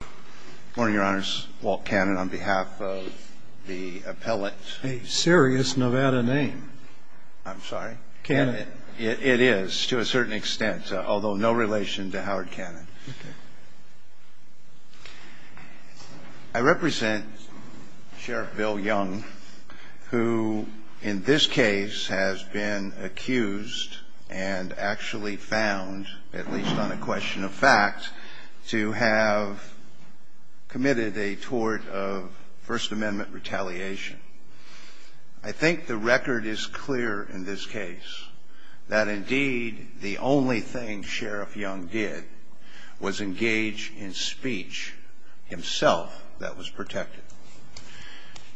Good morning your honors, Walt Cannon on behalf of the appellate A serious Nevada name I'm sorry Cannon It is to a certain extent, although no relation to Howard Cannon Okay I represent Sheriff Bill Young who in this case has been accused and actually found, at least on a question of fact to have committed a tort of First Amendment retaliation I think the record is clear in this case that indeed the only thing Sheriff Young did was engage in speech himself that was protected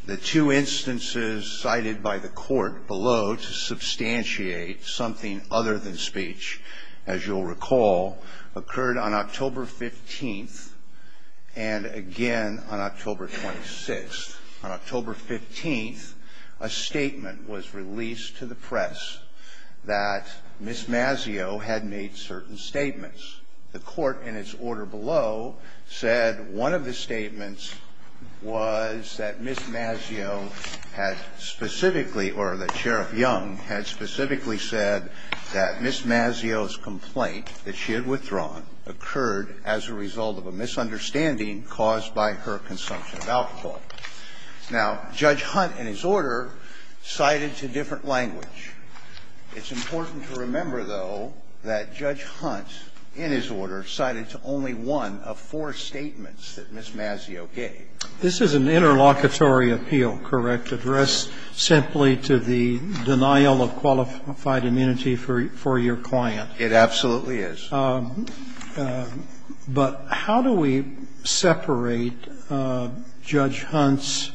The two instances cited by the court below to substantiate something other than speech as you'll recall, occurred on October 15th and again on October 26th On October 15th, a statement was released to the press that Ms. Mazzeo had made certain statements The court in its order below said one of the statements was that Ms. Mazzeo had specifically, or that Sheriff Young had specifically said that Ms. Mazzeo's complaint that she had withdrawn occurred as a result of a misunderstanding caused by her consumption of alcohol Now, Judge Hunt in his order cited to different language It's important to remember though that Judge Hunt in his order cited to only one of four statements that Ms. Mazzeo gave This is an interlocutory appeal, correct addressed simply to the denial of qualified immunity for your client It absolutely is But how do we separate Judge Hunt's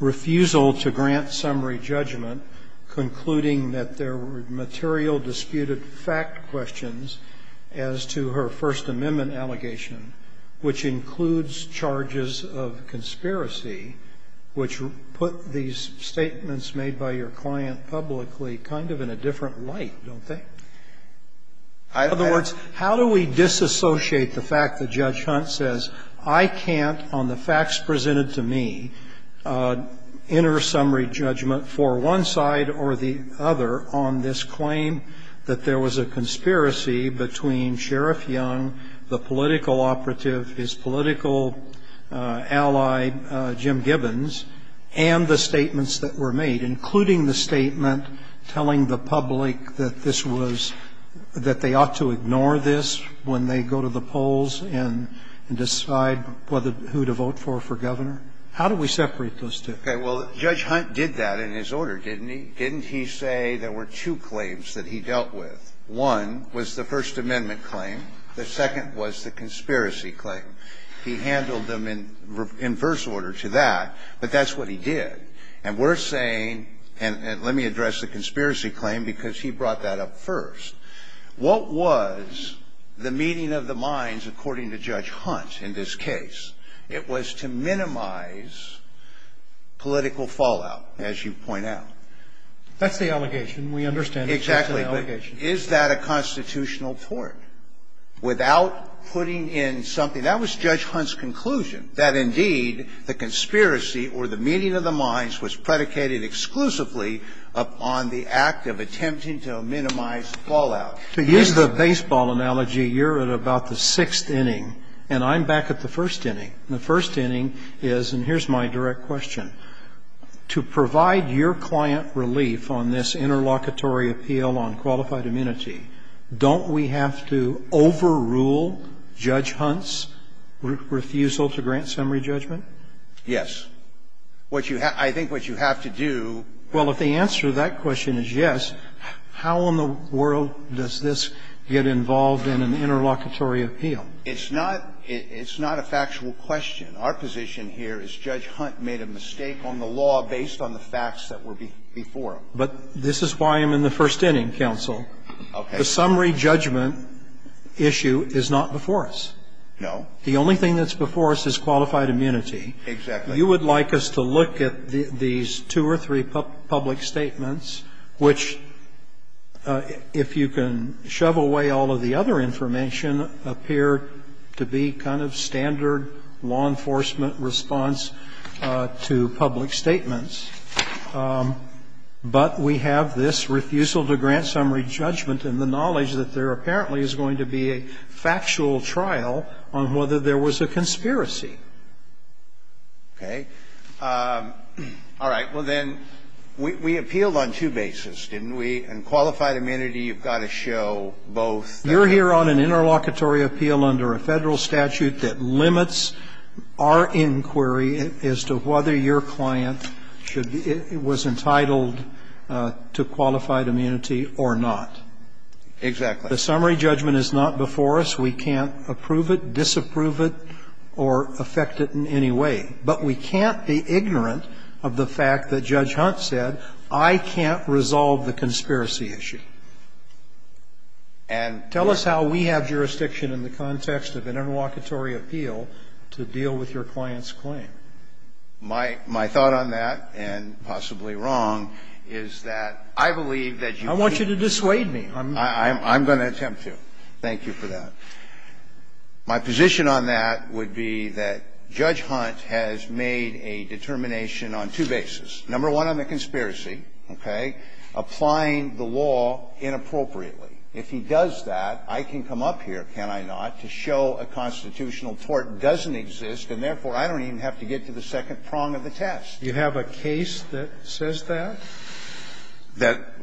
refusal to grant summary judgment concluding that there were material disputed fact questions as to her First Amendment allegation which includes charges of conspiracy which put these statements made by your client publicly kind of in a different light, don't they? In other words, how do we disassociate the fact that Judge Hunt says I can't, on the facts presented to me enter summary judgment for one side or the other on this claim that there was a conspiracy between Sheriff Young the political operative, his political ally, Jim Gibbons and the statements that were made including the statement telling the public that this was that they ought to ignore this when they go to the polls and decide who to vote for for Governor How do we separate those two? Okay, well, Judge Hunt did that in his order, didn't he? Didn't he say there were two claims that he dealt with? One was the First Amendment claim. The second was the conspiracy claim. He handled them in reverse order to that, but that's what he did. And we're saying, and let me address the conspiracy claim because he brought that up first. What was the meeting of the minds, according to Judge Hunt, in this case? It was to minimize political fallout, as you point out. That's the allegation. We understand that's the allegation. Is that a constitutional tort without putting in something? That was Judge Hunt's conclusion, that indeed the conspiracy or the meeting of the minds was predicated exclusively upon the act of attempting to minimize fallout. To use the baseball analogy, you're at about the sixth inning, and I'm back at the first inning. And the first inning is, and here's my direct question, to provide your client relief on this interlocutory appeal on qualified immunity. Don't we have to overrule Judge Hunt's refusal to grant summary judgment? Yes. What you have to do. Well, if the answer to that question is yes, how in the world does this get involved in an interlocutory appeal? It's not a factual question. Our position here is Judge Hunt made a mistake on the law based on the facts that were before him. But this is why I'm in the first inning, counsel. Okay. The summary judgment issue is not before us. No. The only thing that's before us is qualified immunity. Exactly. You would like us to look at these two or three public statements which, if you can to public statements. But we have this refusal to grant summary judgment and the knowledge that there apparently is going to be a factual trial on whether there was a conspiracy. Okay. All right. Well, then, we appealed on two bases, didn't we? And qualified immunity, you've got to show both. You're here on an interlocutory appeal under a Federal statute that limits our inquiry as to whether your client was entitled to qualified immunity or not. Exactly. The summary judgment is not before us. We can't approve it, disapprove it, or affect it in any way. But we can't be ignorant of the fact that Judge Hunt said, I can't resolve the conspiracy issue. Tell us how we have jurisdiction in the context of an interlocutory appeal to deal with your client's claim. My thought on that, and possibly wrong, is that I believe that you can't. I want you to dissuade me. I'm going to attempt to. Thank you for that. My position on that would be that Judge Hunt has made a determination on two bases. Number one, on the conspiracy, okay, applying the law inappropriately. If he does that, I can come up here, can I not, to show a constitutional tort doesn't exist, and therefore, I don't even have to get to the second prong of the test. You have a case that says that?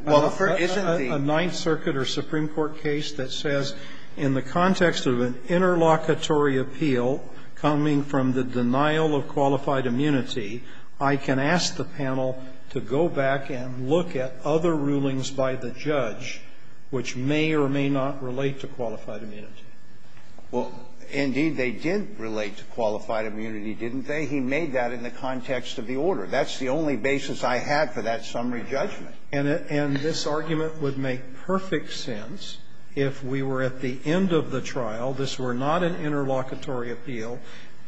Well, the first isn't the one. A Ninth Circuit or Supreme Court case that says in the context of an interlocutory appeal, coming from the denial of qualified immunity, I can ask the panel to go back and look at other rulings by the judge which may or may not relate to qualified immunity. Well, indeed, they did relate to qualified immunity, didn't they? He made that in the context of the order. That's the only basis I have for that summary judgment. And this argument would make perfect sense if we were at the end of the trial. This were not an interlocutory appeal,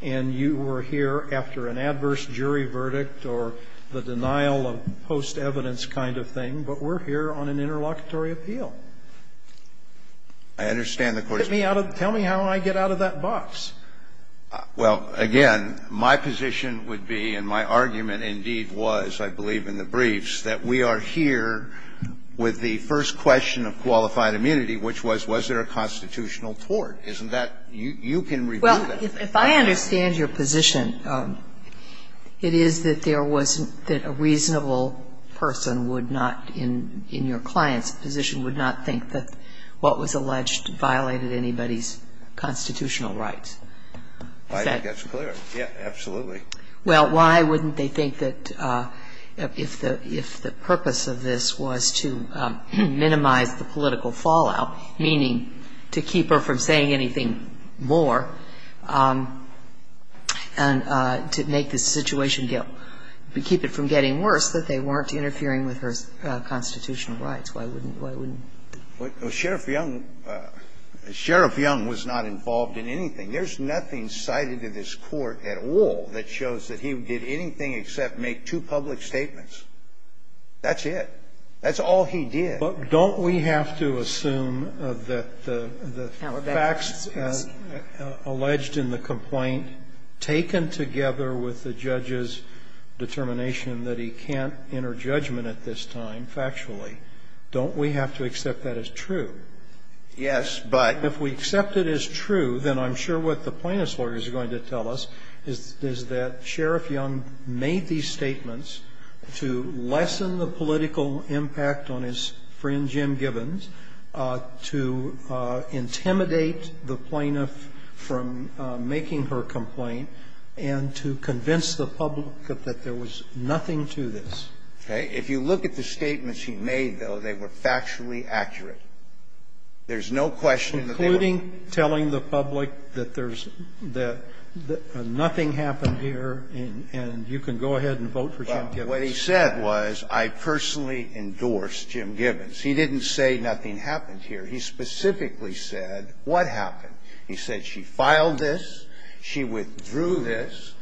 and you were here after an adverse jury verdict or the denial of post-evidence kind of thing, but we're here on an interlocutory appeal. I understand the Court's position. Tell me how I get out of that box. Well, again, my position would be, and my argument indeed was, I believe in the briefs, that we are here with the first question of qualified immunity, which was, was there a constitutional tort? Isn't that you can review that? Well, if I understand your position, it is that there was that a reasonable person would not, in your client's position, would not think that what was alleged violated anybody's constitutional rights. I think that's clear. Yes, absolutely. Well, why wouldn't they think that if the purpose of this was to minimize the political fallout, meaning to keep her from saying anything more, and to make the situation get – keep it from getting worse, that they weren't interfering with her constitutional rights? Why wouldn't they? Well, Sheriff Young was not involved in anything. There's nothing cited in this Court at all that shows that he did anything except make two public statements. That's it. That's all he did. But don't we have to assume that the facts alleged in the complaint, taken together with the judge's determination that he can't enter judgment at this time factually, don't we have to accept that as true? Yes. But if we accept it as true, then I'm sure what the plaintiff's lawyer is going to tell us is that Sheriff Young made these statements to lessen the political impact on his friend Jim Gibbons, to intimidate the plaintiff from making her complaint, and to convince the public that there was nothing to this. Okay. If you look at the statements he made, though, they were factually accurate. There's no question that they were not. They were. Including telling the public that there's the nothing happened here, and you can go ahead and vote for Jim Gibbons. What he said was, I personally endorse Jim Gibbons. He didn't say nothing happened here. He specifically said what happened. He said she filed this, she withdrew this,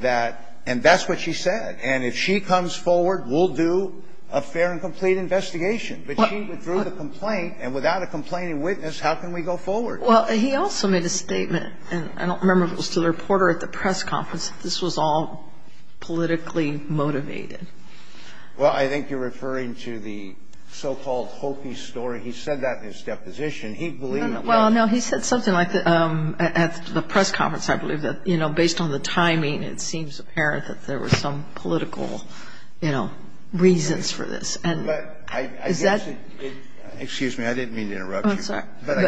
that and that's what she said. And if she comes forward, we'll do a fair and complete investigation. But she withdrew the complaint. And without a complaining witness, how can we go forward? Well, he also made a statement, and I don't remember if it was to the reporter at the press conference, that this was all politically motivated. Well, I think you're referring to the so-called Hokey story. He said that in his deposition. He believed that. Well, no. He said something like that at the press conference, I believe, that, you know, based on the timing, it seems apparent that there were some political, you know, reasons for this. But I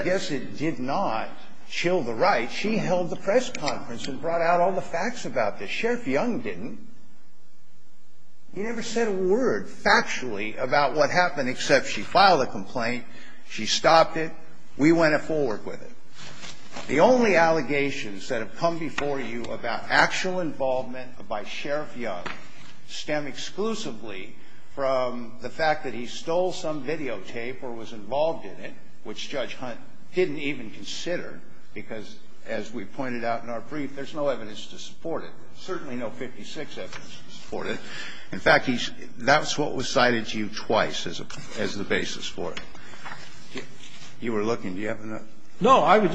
guess it did not chill the right. She held the press conference and brought out all the facts about this. Sheriff Young didn't. He never said a word factually about what happened, except she filed a complaint. She stopped it. We went forward with it. The only allegations that have come before you about actual involvement by Sheriff Young stem exclusively from the fact that he stole some videotape or was involved in it, which Judge Hunt didn't even consider, because as we pointed out in our brief, there's no evidence to support it. There's certainly no 56 evidence to support it. In fact, that's what was cited to you twice as the basis for it. You were looking. Do you have another? No. I would,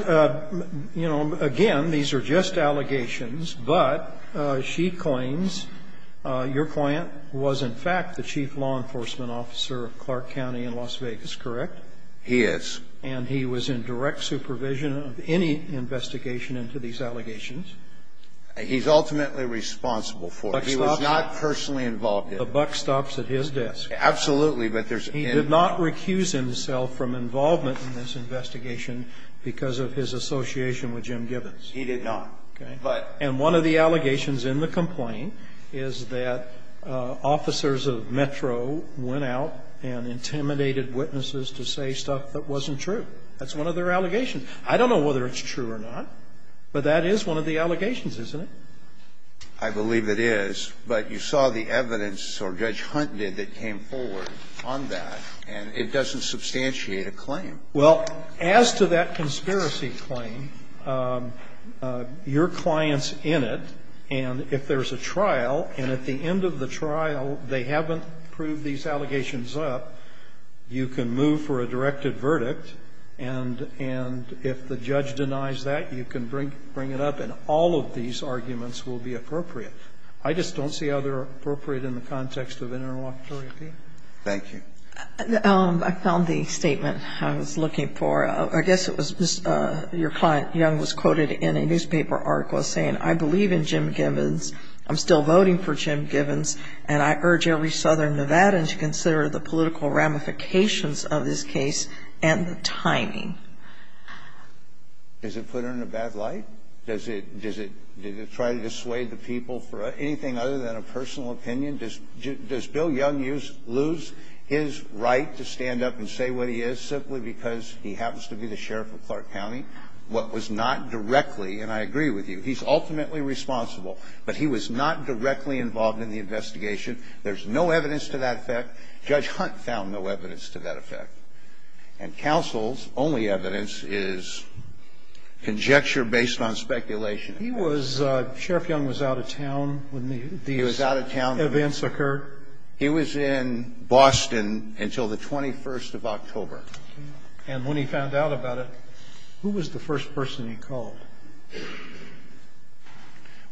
you know, again, these are just allegations, but she claims your client was, in fact, the chief law enforcement officer of Clark County in Las Vegas, correct? He is. And he was in direct supervision of any investigation into these allegations. He's ultimately responsible for it. He was not personally involved in it. The buck stops at his desk. Absolutely. But there's in. He did not recuse himself from involvement in this investigation because of his association with Jim Gibbons. He did not. Okay. But. And one of the allegations in the complaint is that officers of Metro went out and intimidated witnesses to say stuff that wasn't true. That's one of their allegations. I don't know whether it's true or not, but that is one of the allegations, isn't it? I believe it is. But you saw the evidence, or Judge Hunt did, that came forward on that, and it doesn't substantiate a claim. Well, as to that conspiracy claim, your client's in it, and if there's a trial, and at the end of the trial they haven't proved these allegations up, you can move for a directed verdict, and if the judge denies that, you can bring it up and all of these arguments will be appropriate. I just don't see how they're appropriate in the context of interlocutory appeal. Thank you. I found the statement I was looking for. I guess it was just your client, Young, was quoted in a newspaper article saying, I believe in Jim Gibbons, I'm still voting for Jim Gibbons, and I urge every southern Nevadan to consider the political ramifications of this case and the timing. Does it put her in a bad light? Does it try to dissuade the people for anything other than a personal opinion? Does Bill Young lose his right to stand up and say what he is simply because he happens to be the sheriff of Clark County? What was not directly, and I agree with you, he's ultimately responsible, but he was not directly involved in the investigation. There's no evidence to that effect. Judge Hunt found no evidence to that effect. And counsel's only evidence is conjecture based on speculation. He was, Sheriff Young was out of town when these events occurred. He was in Boston until the 21st of October. And when he found out about it, who was the first person he called?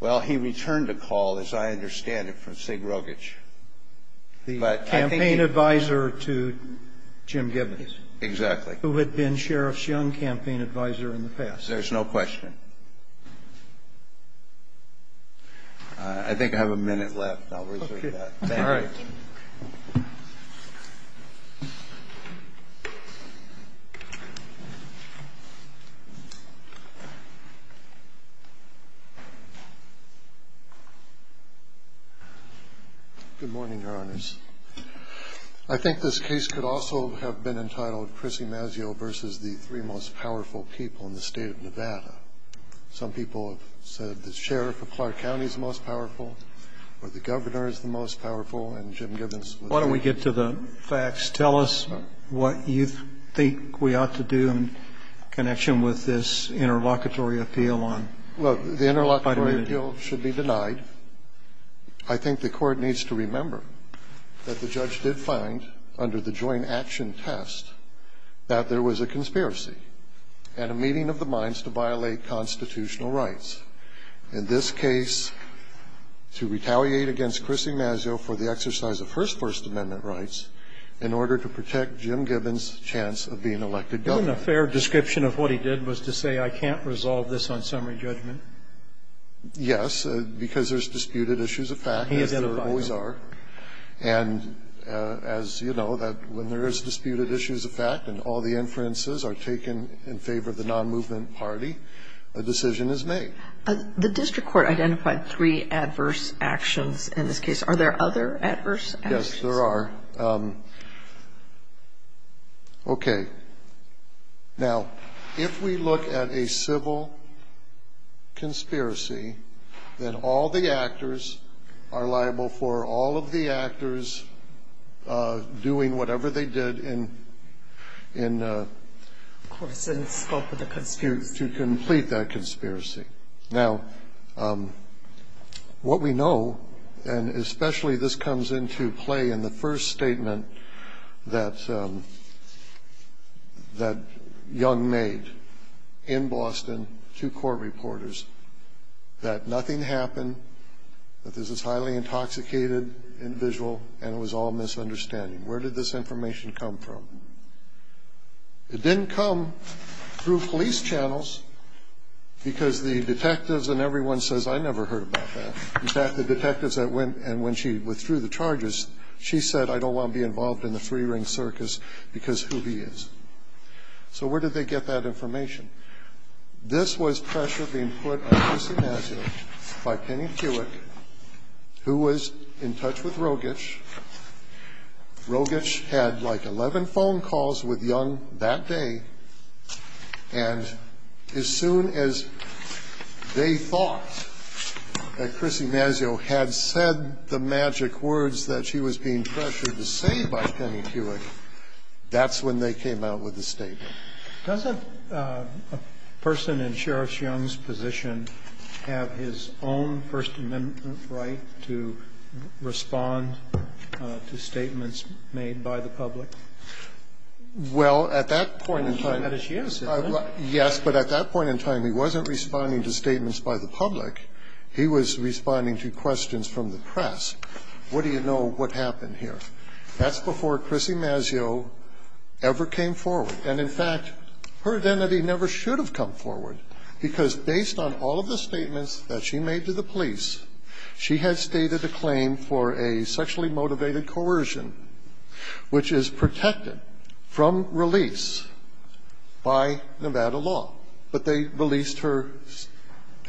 Well, he returned a call, as I understand it, from Sig Rogich. The campaign advisor to Jim Gibbons. Exactly. Who had been Sheriff's Young campaign advisor in the past. There's no question. I think I have a minute left. I'll reserve that. All right. Good morning, Your Honors. I think this case could also have been entitled Chrissy Mazzeo versus the three most powerful people in the state of Nevada. Some people have said the sheriff of Clark County is the most powerful, or the governor is the most powerful, and Jim Gibbons was. Why don't we get to the facts. Tell us what you think we ought to do in connection with this interlocutory appeal on vitamin D. Well, the interlocutory appeal should be denied. I think the Court needs to remember that the judge did find under the joint action test that there was a conspiracy and a meeting of the minds to violate constitutional rights. In this case, to retaliate against Chrissy Mazzeo for the exercise of her First Amendment rights in order to protect Jim Gibbons' chance of being elected governor. A fair description of what he did was to say, I can't resolve this on summary judgment. Yes, because there's disputed issues of fact, as there always are. And as you know, when there is disputed issues of fact and all the inferences are taken in favor of the non-movement party, a decision is made. The district court identified three adverse actions in this case. Are there other adverse actions? Yes, there are. Okay. Now, if we look at a civil conspiracy, then all the actors are liable for all of the actors doing whatever they did in the to complete that conspiracy. Now, what we know, and especially this comes into play in the first statement that Young made in Boston to court reporters, that nothing happened, that this is highly intoxicated, individual, and it was all misunderstanding. Where did this information come from? It didn't come through police channels because the detectives and everyone says, I never heard about that. In fact, the detectives that went and when she withdrew the charges, she said, I don't want to be involved in the three-ring circus because who he is. So where did they get that information? This was pressure being put on Chrissie Masio by Penny Kewick, who was in touch with Rogich. Rogich had like 11 phone calls with Young that day. And as soon as they thought that Chrissie Masio had said the magic words that she was being pressured to say by Penny Kewick, that's when they came out with the statement. Roberts. Doesn't a person in Sheriff Young's position have his own First Amendment right to respond to statements made by the public? Well, at that point in time, yes, but at that point in time, he wasn't responding to statements by the public. He was responding to questions from the press. What do you know what happened here? That's before Chrissie Masio ever came forward. And in fact, her identity never should have come forward because based on all of the statements that she made to the police, she had stated a claim for a sexually motivated coercion, which is protected from release by Nevada law. But they released her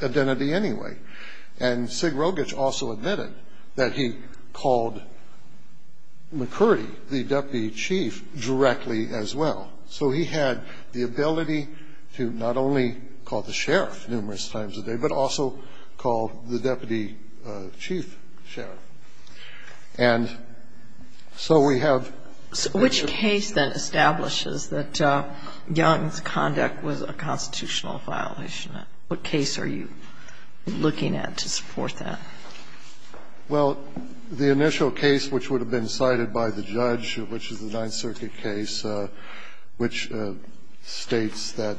identity anyway. And Sig Rogich also admitted that he called McCurdy, the deputy chief, directly as well. So he had the ability to not only call the sheriff numerous times a day, but also call the deputy chief sheriff. And so we have the ability to do that. So which case then establishes that Young's conduct was a constitutional violation? What case are you looking at to support that? Well, the initial case which would have been cited by the judge, which is the Ninth Circuit case, which states that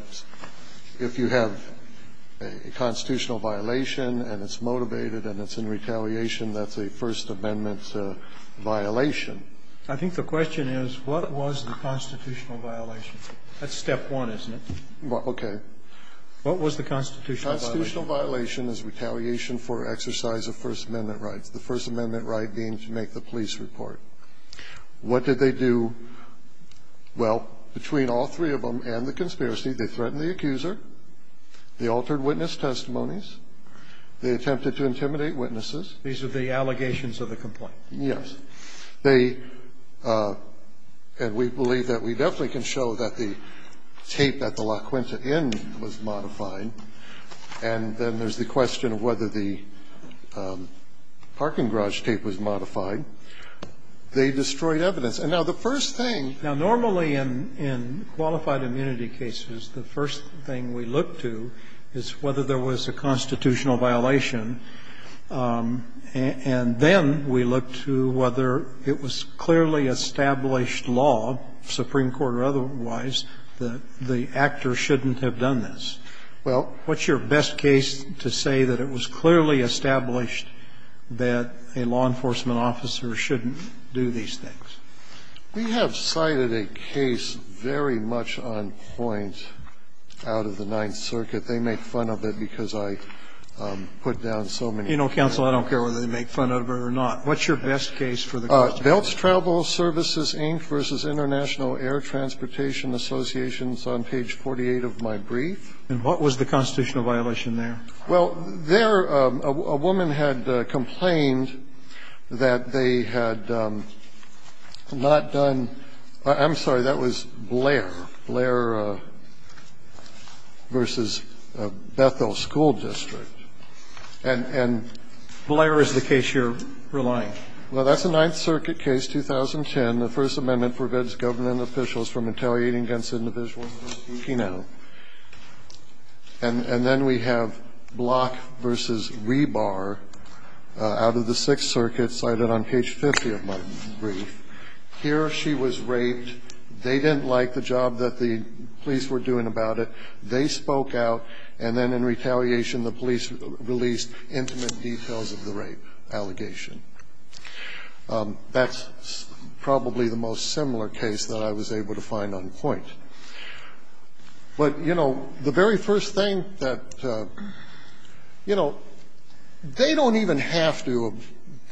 if you have a constitutional violation and it's motivated and it's in retaliation, that's a First Amendment violation. I think the question is, what was the constitutional violation? That's step one, isn't it? Okay. What was the constitutional violation? The constitutional violation is retaliation for exercise of First Amendment rights, the First Amendment right being to make the police report. What did they do? Well, between all three of them and the conspiracy, they threatened the accuser, they altered witness testimonies, they attempted to intimidate witnesses. These are the allegations of the complaint. Yes. They – and we believe that we definitely can show that the tape that the LaQuinta N was modifying, and then there's the question of whether the parking garage tape was modified. They destroyed evidence. And now the first thing – Now, normally in qualified immunity cases, the first thing we look to is whether there was a constitutional violation. And then we look to whether it was clearly established law, Supreme Court or otherwise, that the actor shouldn't have done this. Well – What's your best case to say that it was clearly established that a law enforcement officer shouldn't do these things? We have cited a case very much on point out of the Ninth Circuit. They make fun of it because I put down so many points. You know, counsel, I don't care whether they make fun of it or not. What's your best case for the question? Belts Travel Services, Inc. v. International Air Transportation Associations on page 48 of my brief. And what was the constitutional violation there? Well, there a woman had complained that they had not done – I'm sorry, that was Blair, Blair v. Bethel School District. And – Blair is the case you're relying? Well, that's a Ninth Circuit case, 2010. The First Amendment prevents government officials from retaliating against individuals who are speaking out. And then we have Block v. Rebar out of the Sixth Circuit cited on page 50 of my brief. Here she was raped. They didn't like the job that the police were doing about it. They spoke out. And then in retaliation, the police released intimate details of the rape allegation. That's probably the most similar case that I was able to find on point. But, you know, the very first thing that – you know, they don't even have to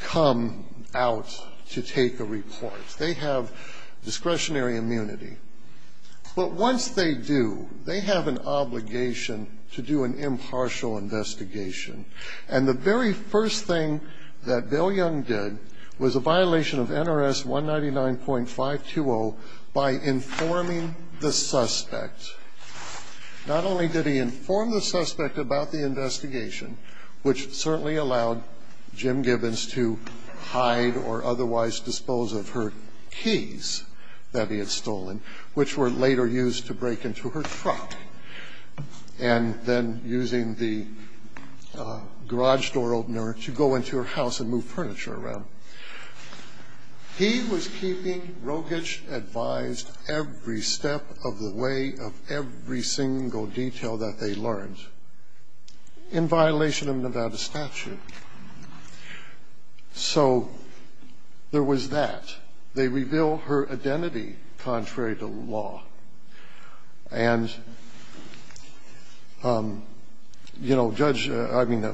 come out to take a report. They have discretionary immunity. But once they do, they have an obligation to do an impartial investigation. And the very first thing that Bill Young did was a violation of NRS 199.520 by informing the suspect. Not only did he inform the suspect about the investigation, which certainly allowed Jim Gibbons to hide or otherwise dispose of her keys that he had stolen, which were later used to break into her truck. And then using the garage door opener to go into her house and move furniture around. He was keeping Rogich advised every step of the way of every single detail that they learned in violation of Nevada statute. So there was that. They reveal her identity contrary to law. And, you know, Judge – I mean,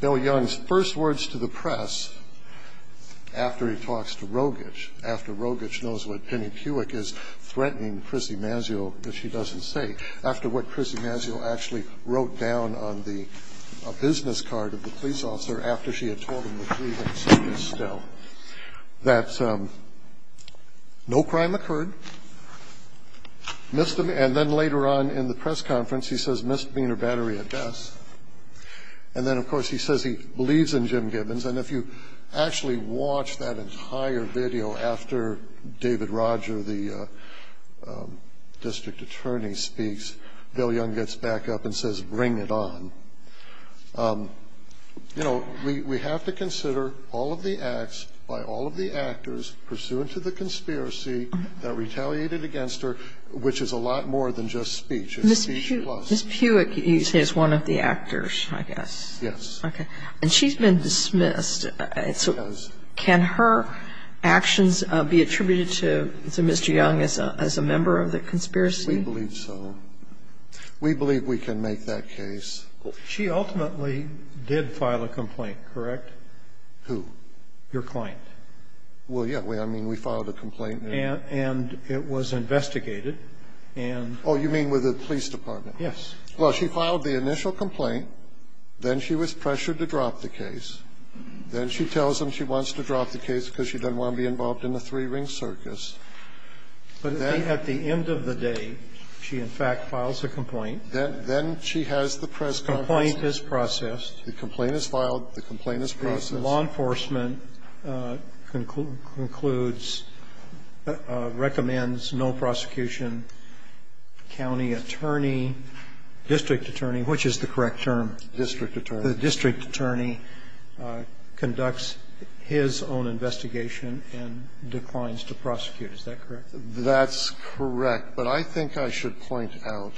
Bill Young's first words to the press after he talks to Rogich, after Rogich knows what Penny Cuick is threatening Chrissie Masiol that she doesn't say, after what Chrissie Masiol actually wrote down on the business card of the police officer after she had told him the grievance was still, that no crime occurred, misdemeanor – and then later on in the press conference he says misdemeanor battery at best. And then, of course, he says he believes in Jim Gibbons. And if you actually watch that entire video after David Roger, the district attorney, speaks, Bill Young gets back up and says, bring it on. You know, we have to consider all of the acts by all of the actors pursuant to the conspiracy that retaliated against her, which is a lot more than just speech. It's speech plus. Ms. Puick is one of the actors, I guess. Yes. Okay. And she's been dismissed. Yes. Can her actions be attributed to Mr. Young as a member of the conspiracy? We believe so. We believe we can make that case. She ultimately did file a complaint, correct? Who? Your client. Well, yeah. I mean, we filed a complaint. And it was investigated. And – Oh, you mean with the police department? Yes. Well, she filed the initial complaint. Then she was pressured to drop the case. Then she tells him she wants to drop the case because she doesn't want to be involved in a three-ring circus. But then – At the end of the day, she, in fact, files a complaint. Then she has the press conference. The complaint is processed. The complaint is filed. The complaint is processed. The law enforcement concludes – recommends no prosecution. County attorney, district attorney, which is the correct term? District attorney. The district attorney conducts his own investigation and declines to prosecute. Is that correct? That's correct. But I think I should point out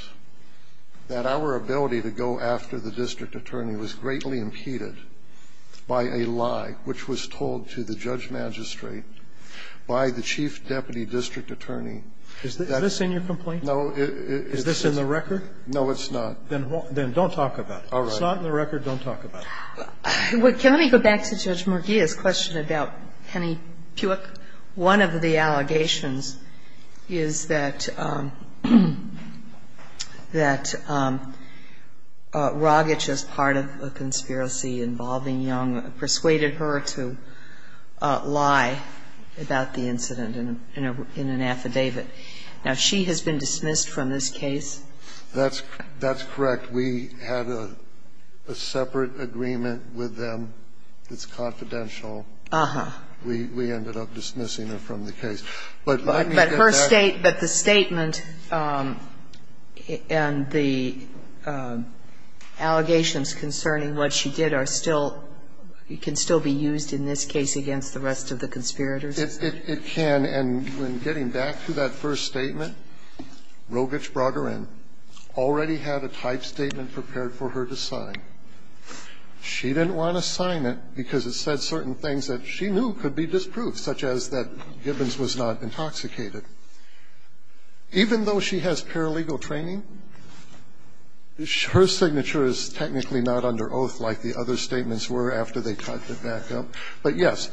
that our ability to go after the district attorney was greatly impeded by a lie which was told to the judge magistrate by the chief deputy district attorney. Is this in your complaint? No, it's – Is this in the record? No, it's not. Then don't talk about it. All right. If it's not in the record, don't talk about it. Can I go back to Judge Murguia's question about Penny Puick? One of the allegations is that – that Rogich, as part of a conspiracy involving Young, persuaded her to lie about the incident in an affidavit. Now, she has been dismissed from this case. That's correct. We had a separate agreement with them that's confidential. Uh-huh. We ended up dismissing her from the case. But let me get back to that. But her state – but the statement and the allegations concerning what she did are still – can still be used in this case against the rest of the conspirators? It can. And when getting back to that first statement, Rogich brought her in, already had a type statement prepared for her to sign. She didn't want to sign it because it said certain things that she knew could be disproved, such as that Gibbons was not intoxicated. Even though she has paralegal training, her signature is technically not under oath like the other statements were after they typed it back up. But yes,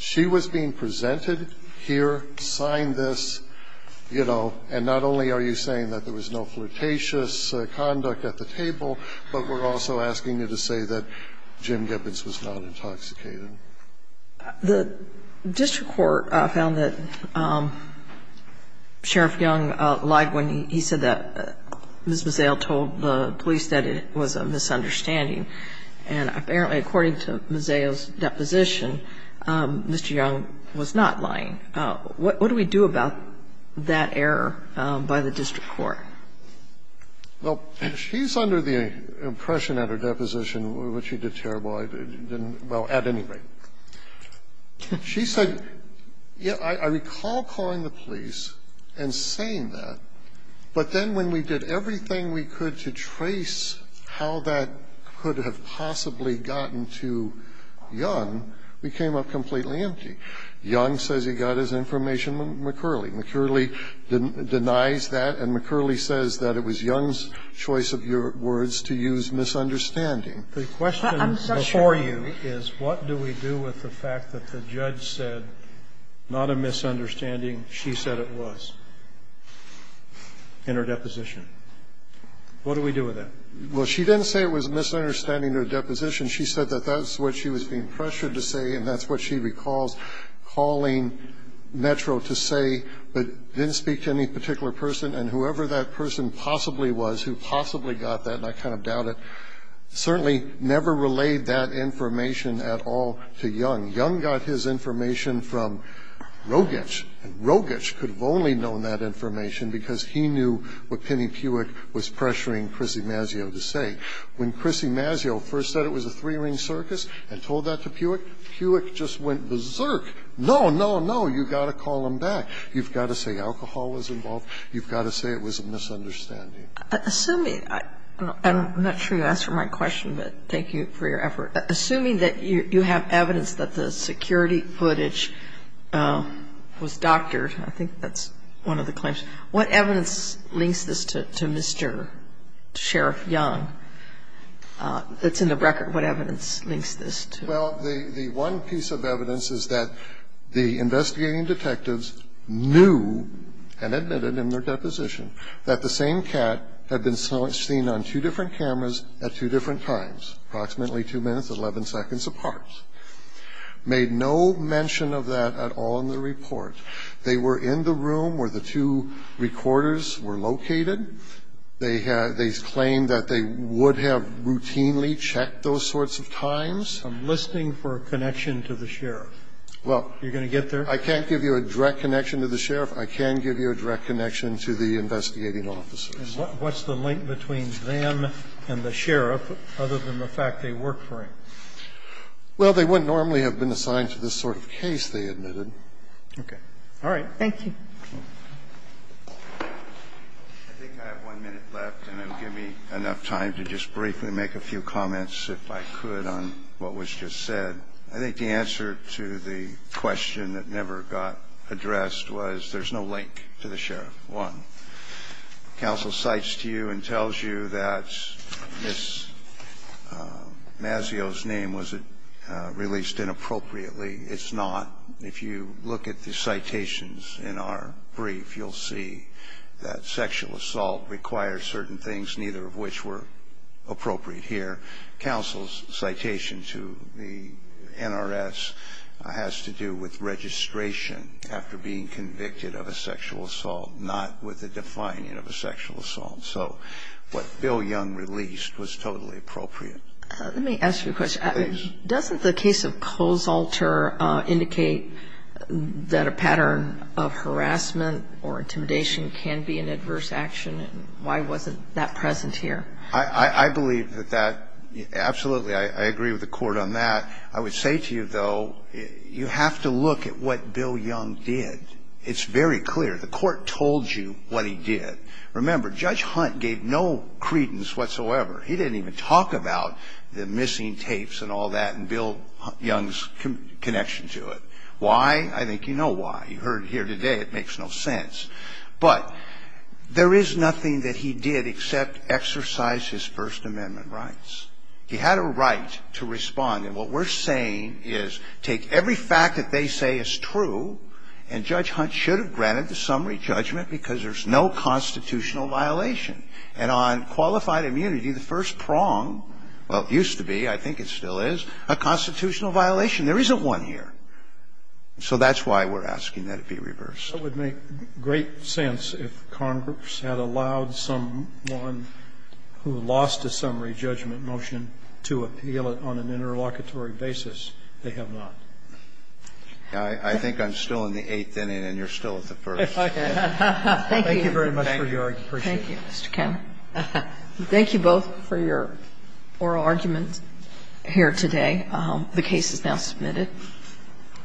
she was being presented here, signed this, you know, and not only are you saying that there was no flirtatious conduct at the table, but we're also asking you to say that Jim Gibbons was not intoxicated. The district court found that Sheriff Young lied when he said that Ms. Mazzello told the police that it was a misunderstanding. And apparently, according to Mazzello's deposition, Mr. Young was not lying. What do we do about that error by the district court? Well, she's under the impression at her deposition, which she did terribly, well, at any rate. She said, yes, I recall calling the police and saying that, but then when we did everything we could to trace how that could have possibly gotten to Young, we came up completely empty. Young says he got his information from McCurley. McCurley denies that, and McCurley says that it was Young's choice of words to use misunderstanding. The question before you is what do we do with the fact that the judge said, not a misunderstanding, she said it was in her deposition. What do we do with that? Well, she didn't say it was a misunderstanding in her deposition. She said that that's what she was being pressured to say, and that's what she recalls calling Metro to say, but didn't speak to any particular person, and whoever that person possibly was who possibly got that, and I kind of doubt it, certainly never relayed that information at all to Young. Young got his information from Rogich, and Rogich could have only known that information because he knew what Penny Piewik was pressuring Chrissy Mazzello to say. When Chrissy Mazzello first said it was a three-ring circus and told that to Piewik, Piewik just went berserk. No, no, no. You've got to call them back. You've got to say alcohol was involved. You've got to say it was a misunderstanding. Sotomayor, I'm not sure you answered my question, but thank you for your effort. Assuming that you have evidence that the security footage was doctored, and I think that's one of the claims, what evidence links this to Mr. Sheriff Young? It's in the record. What evidence links this to him? Well, the one piece of evidence is that the investigating detectives knew and admitted in their deposition that the same cat had been seen on two different cameras at two different times, approximately 2 minutes, 11 seconds apart, made no mention of that at all in the report. They were in the room where the two recorders were located. They claimed that they would have routinely checked those sorts of times. I'm listening for a connection to the sheriff. You're going to get there? I can't give you a direct connection to the sheriff. I can give you a direct connection to the investigating officers. And what's the link between them and the sheriff, other than the fact they worked for him? Well, they wouldn't normally have been assigned to this sort of case, they admitted. Okay. All right. Thank you. I think I have one minute left, and I'll give me enough time to just briefly make a few comments, if I could, on what was just said. I think the answer to the question that never got addressed was there's no link to the sheriff. One, counsel cites to you and tells you that Ms. Mazzio's name was released inappropriately. It's not. If you look at the citations in our brief, you'll see that sexual assault requires certain things, neither of which were appropriate here. Counsel's citation to the NRS has to do with registration after being convicted of a sexual assault, not with the defining of a sexual assault. So what Bill Young released was totally appropriate. Let me ask you a question. Doesn't the case of Kozolter indicate that a pattern of harassment or intimidation can be an adverse action, and why wasn't that present here? I believe that that absolutely, I agree with the Court on that. I would say to you, though, you have to look at what Bill Young did. It's very clear. The Court told you what he did. Remember, Judge Hunt gave no credence whatsoever. He didn't even talk about the missing tapes and all that and Bill Young's connection to it. Why? I think you know why. You heard it here today. It makes no sense. But there is nothing that he did except exercise his First Amendment rights. He had a right to respond. And what we're saying is take every fact that they say is true, and Judge Hunt should have granted the summary judgment because there's no constitutional violation. And on qualified immunity, the first prong, well, it used to be, I think it still is, a constitutional violation. There isn't one here. So that's why we're asking that it be reversed. It would make great sense if Congress had allowed someone who lost a summary judgment motion to appeal it on an interlocutory basis. They have not. I think I'm still in the eighth inning and you're still at the first. Thank you very much for your argument. Thank you, Mr. Cameron. Thank you both for your oral argument here today. The case is now submitted.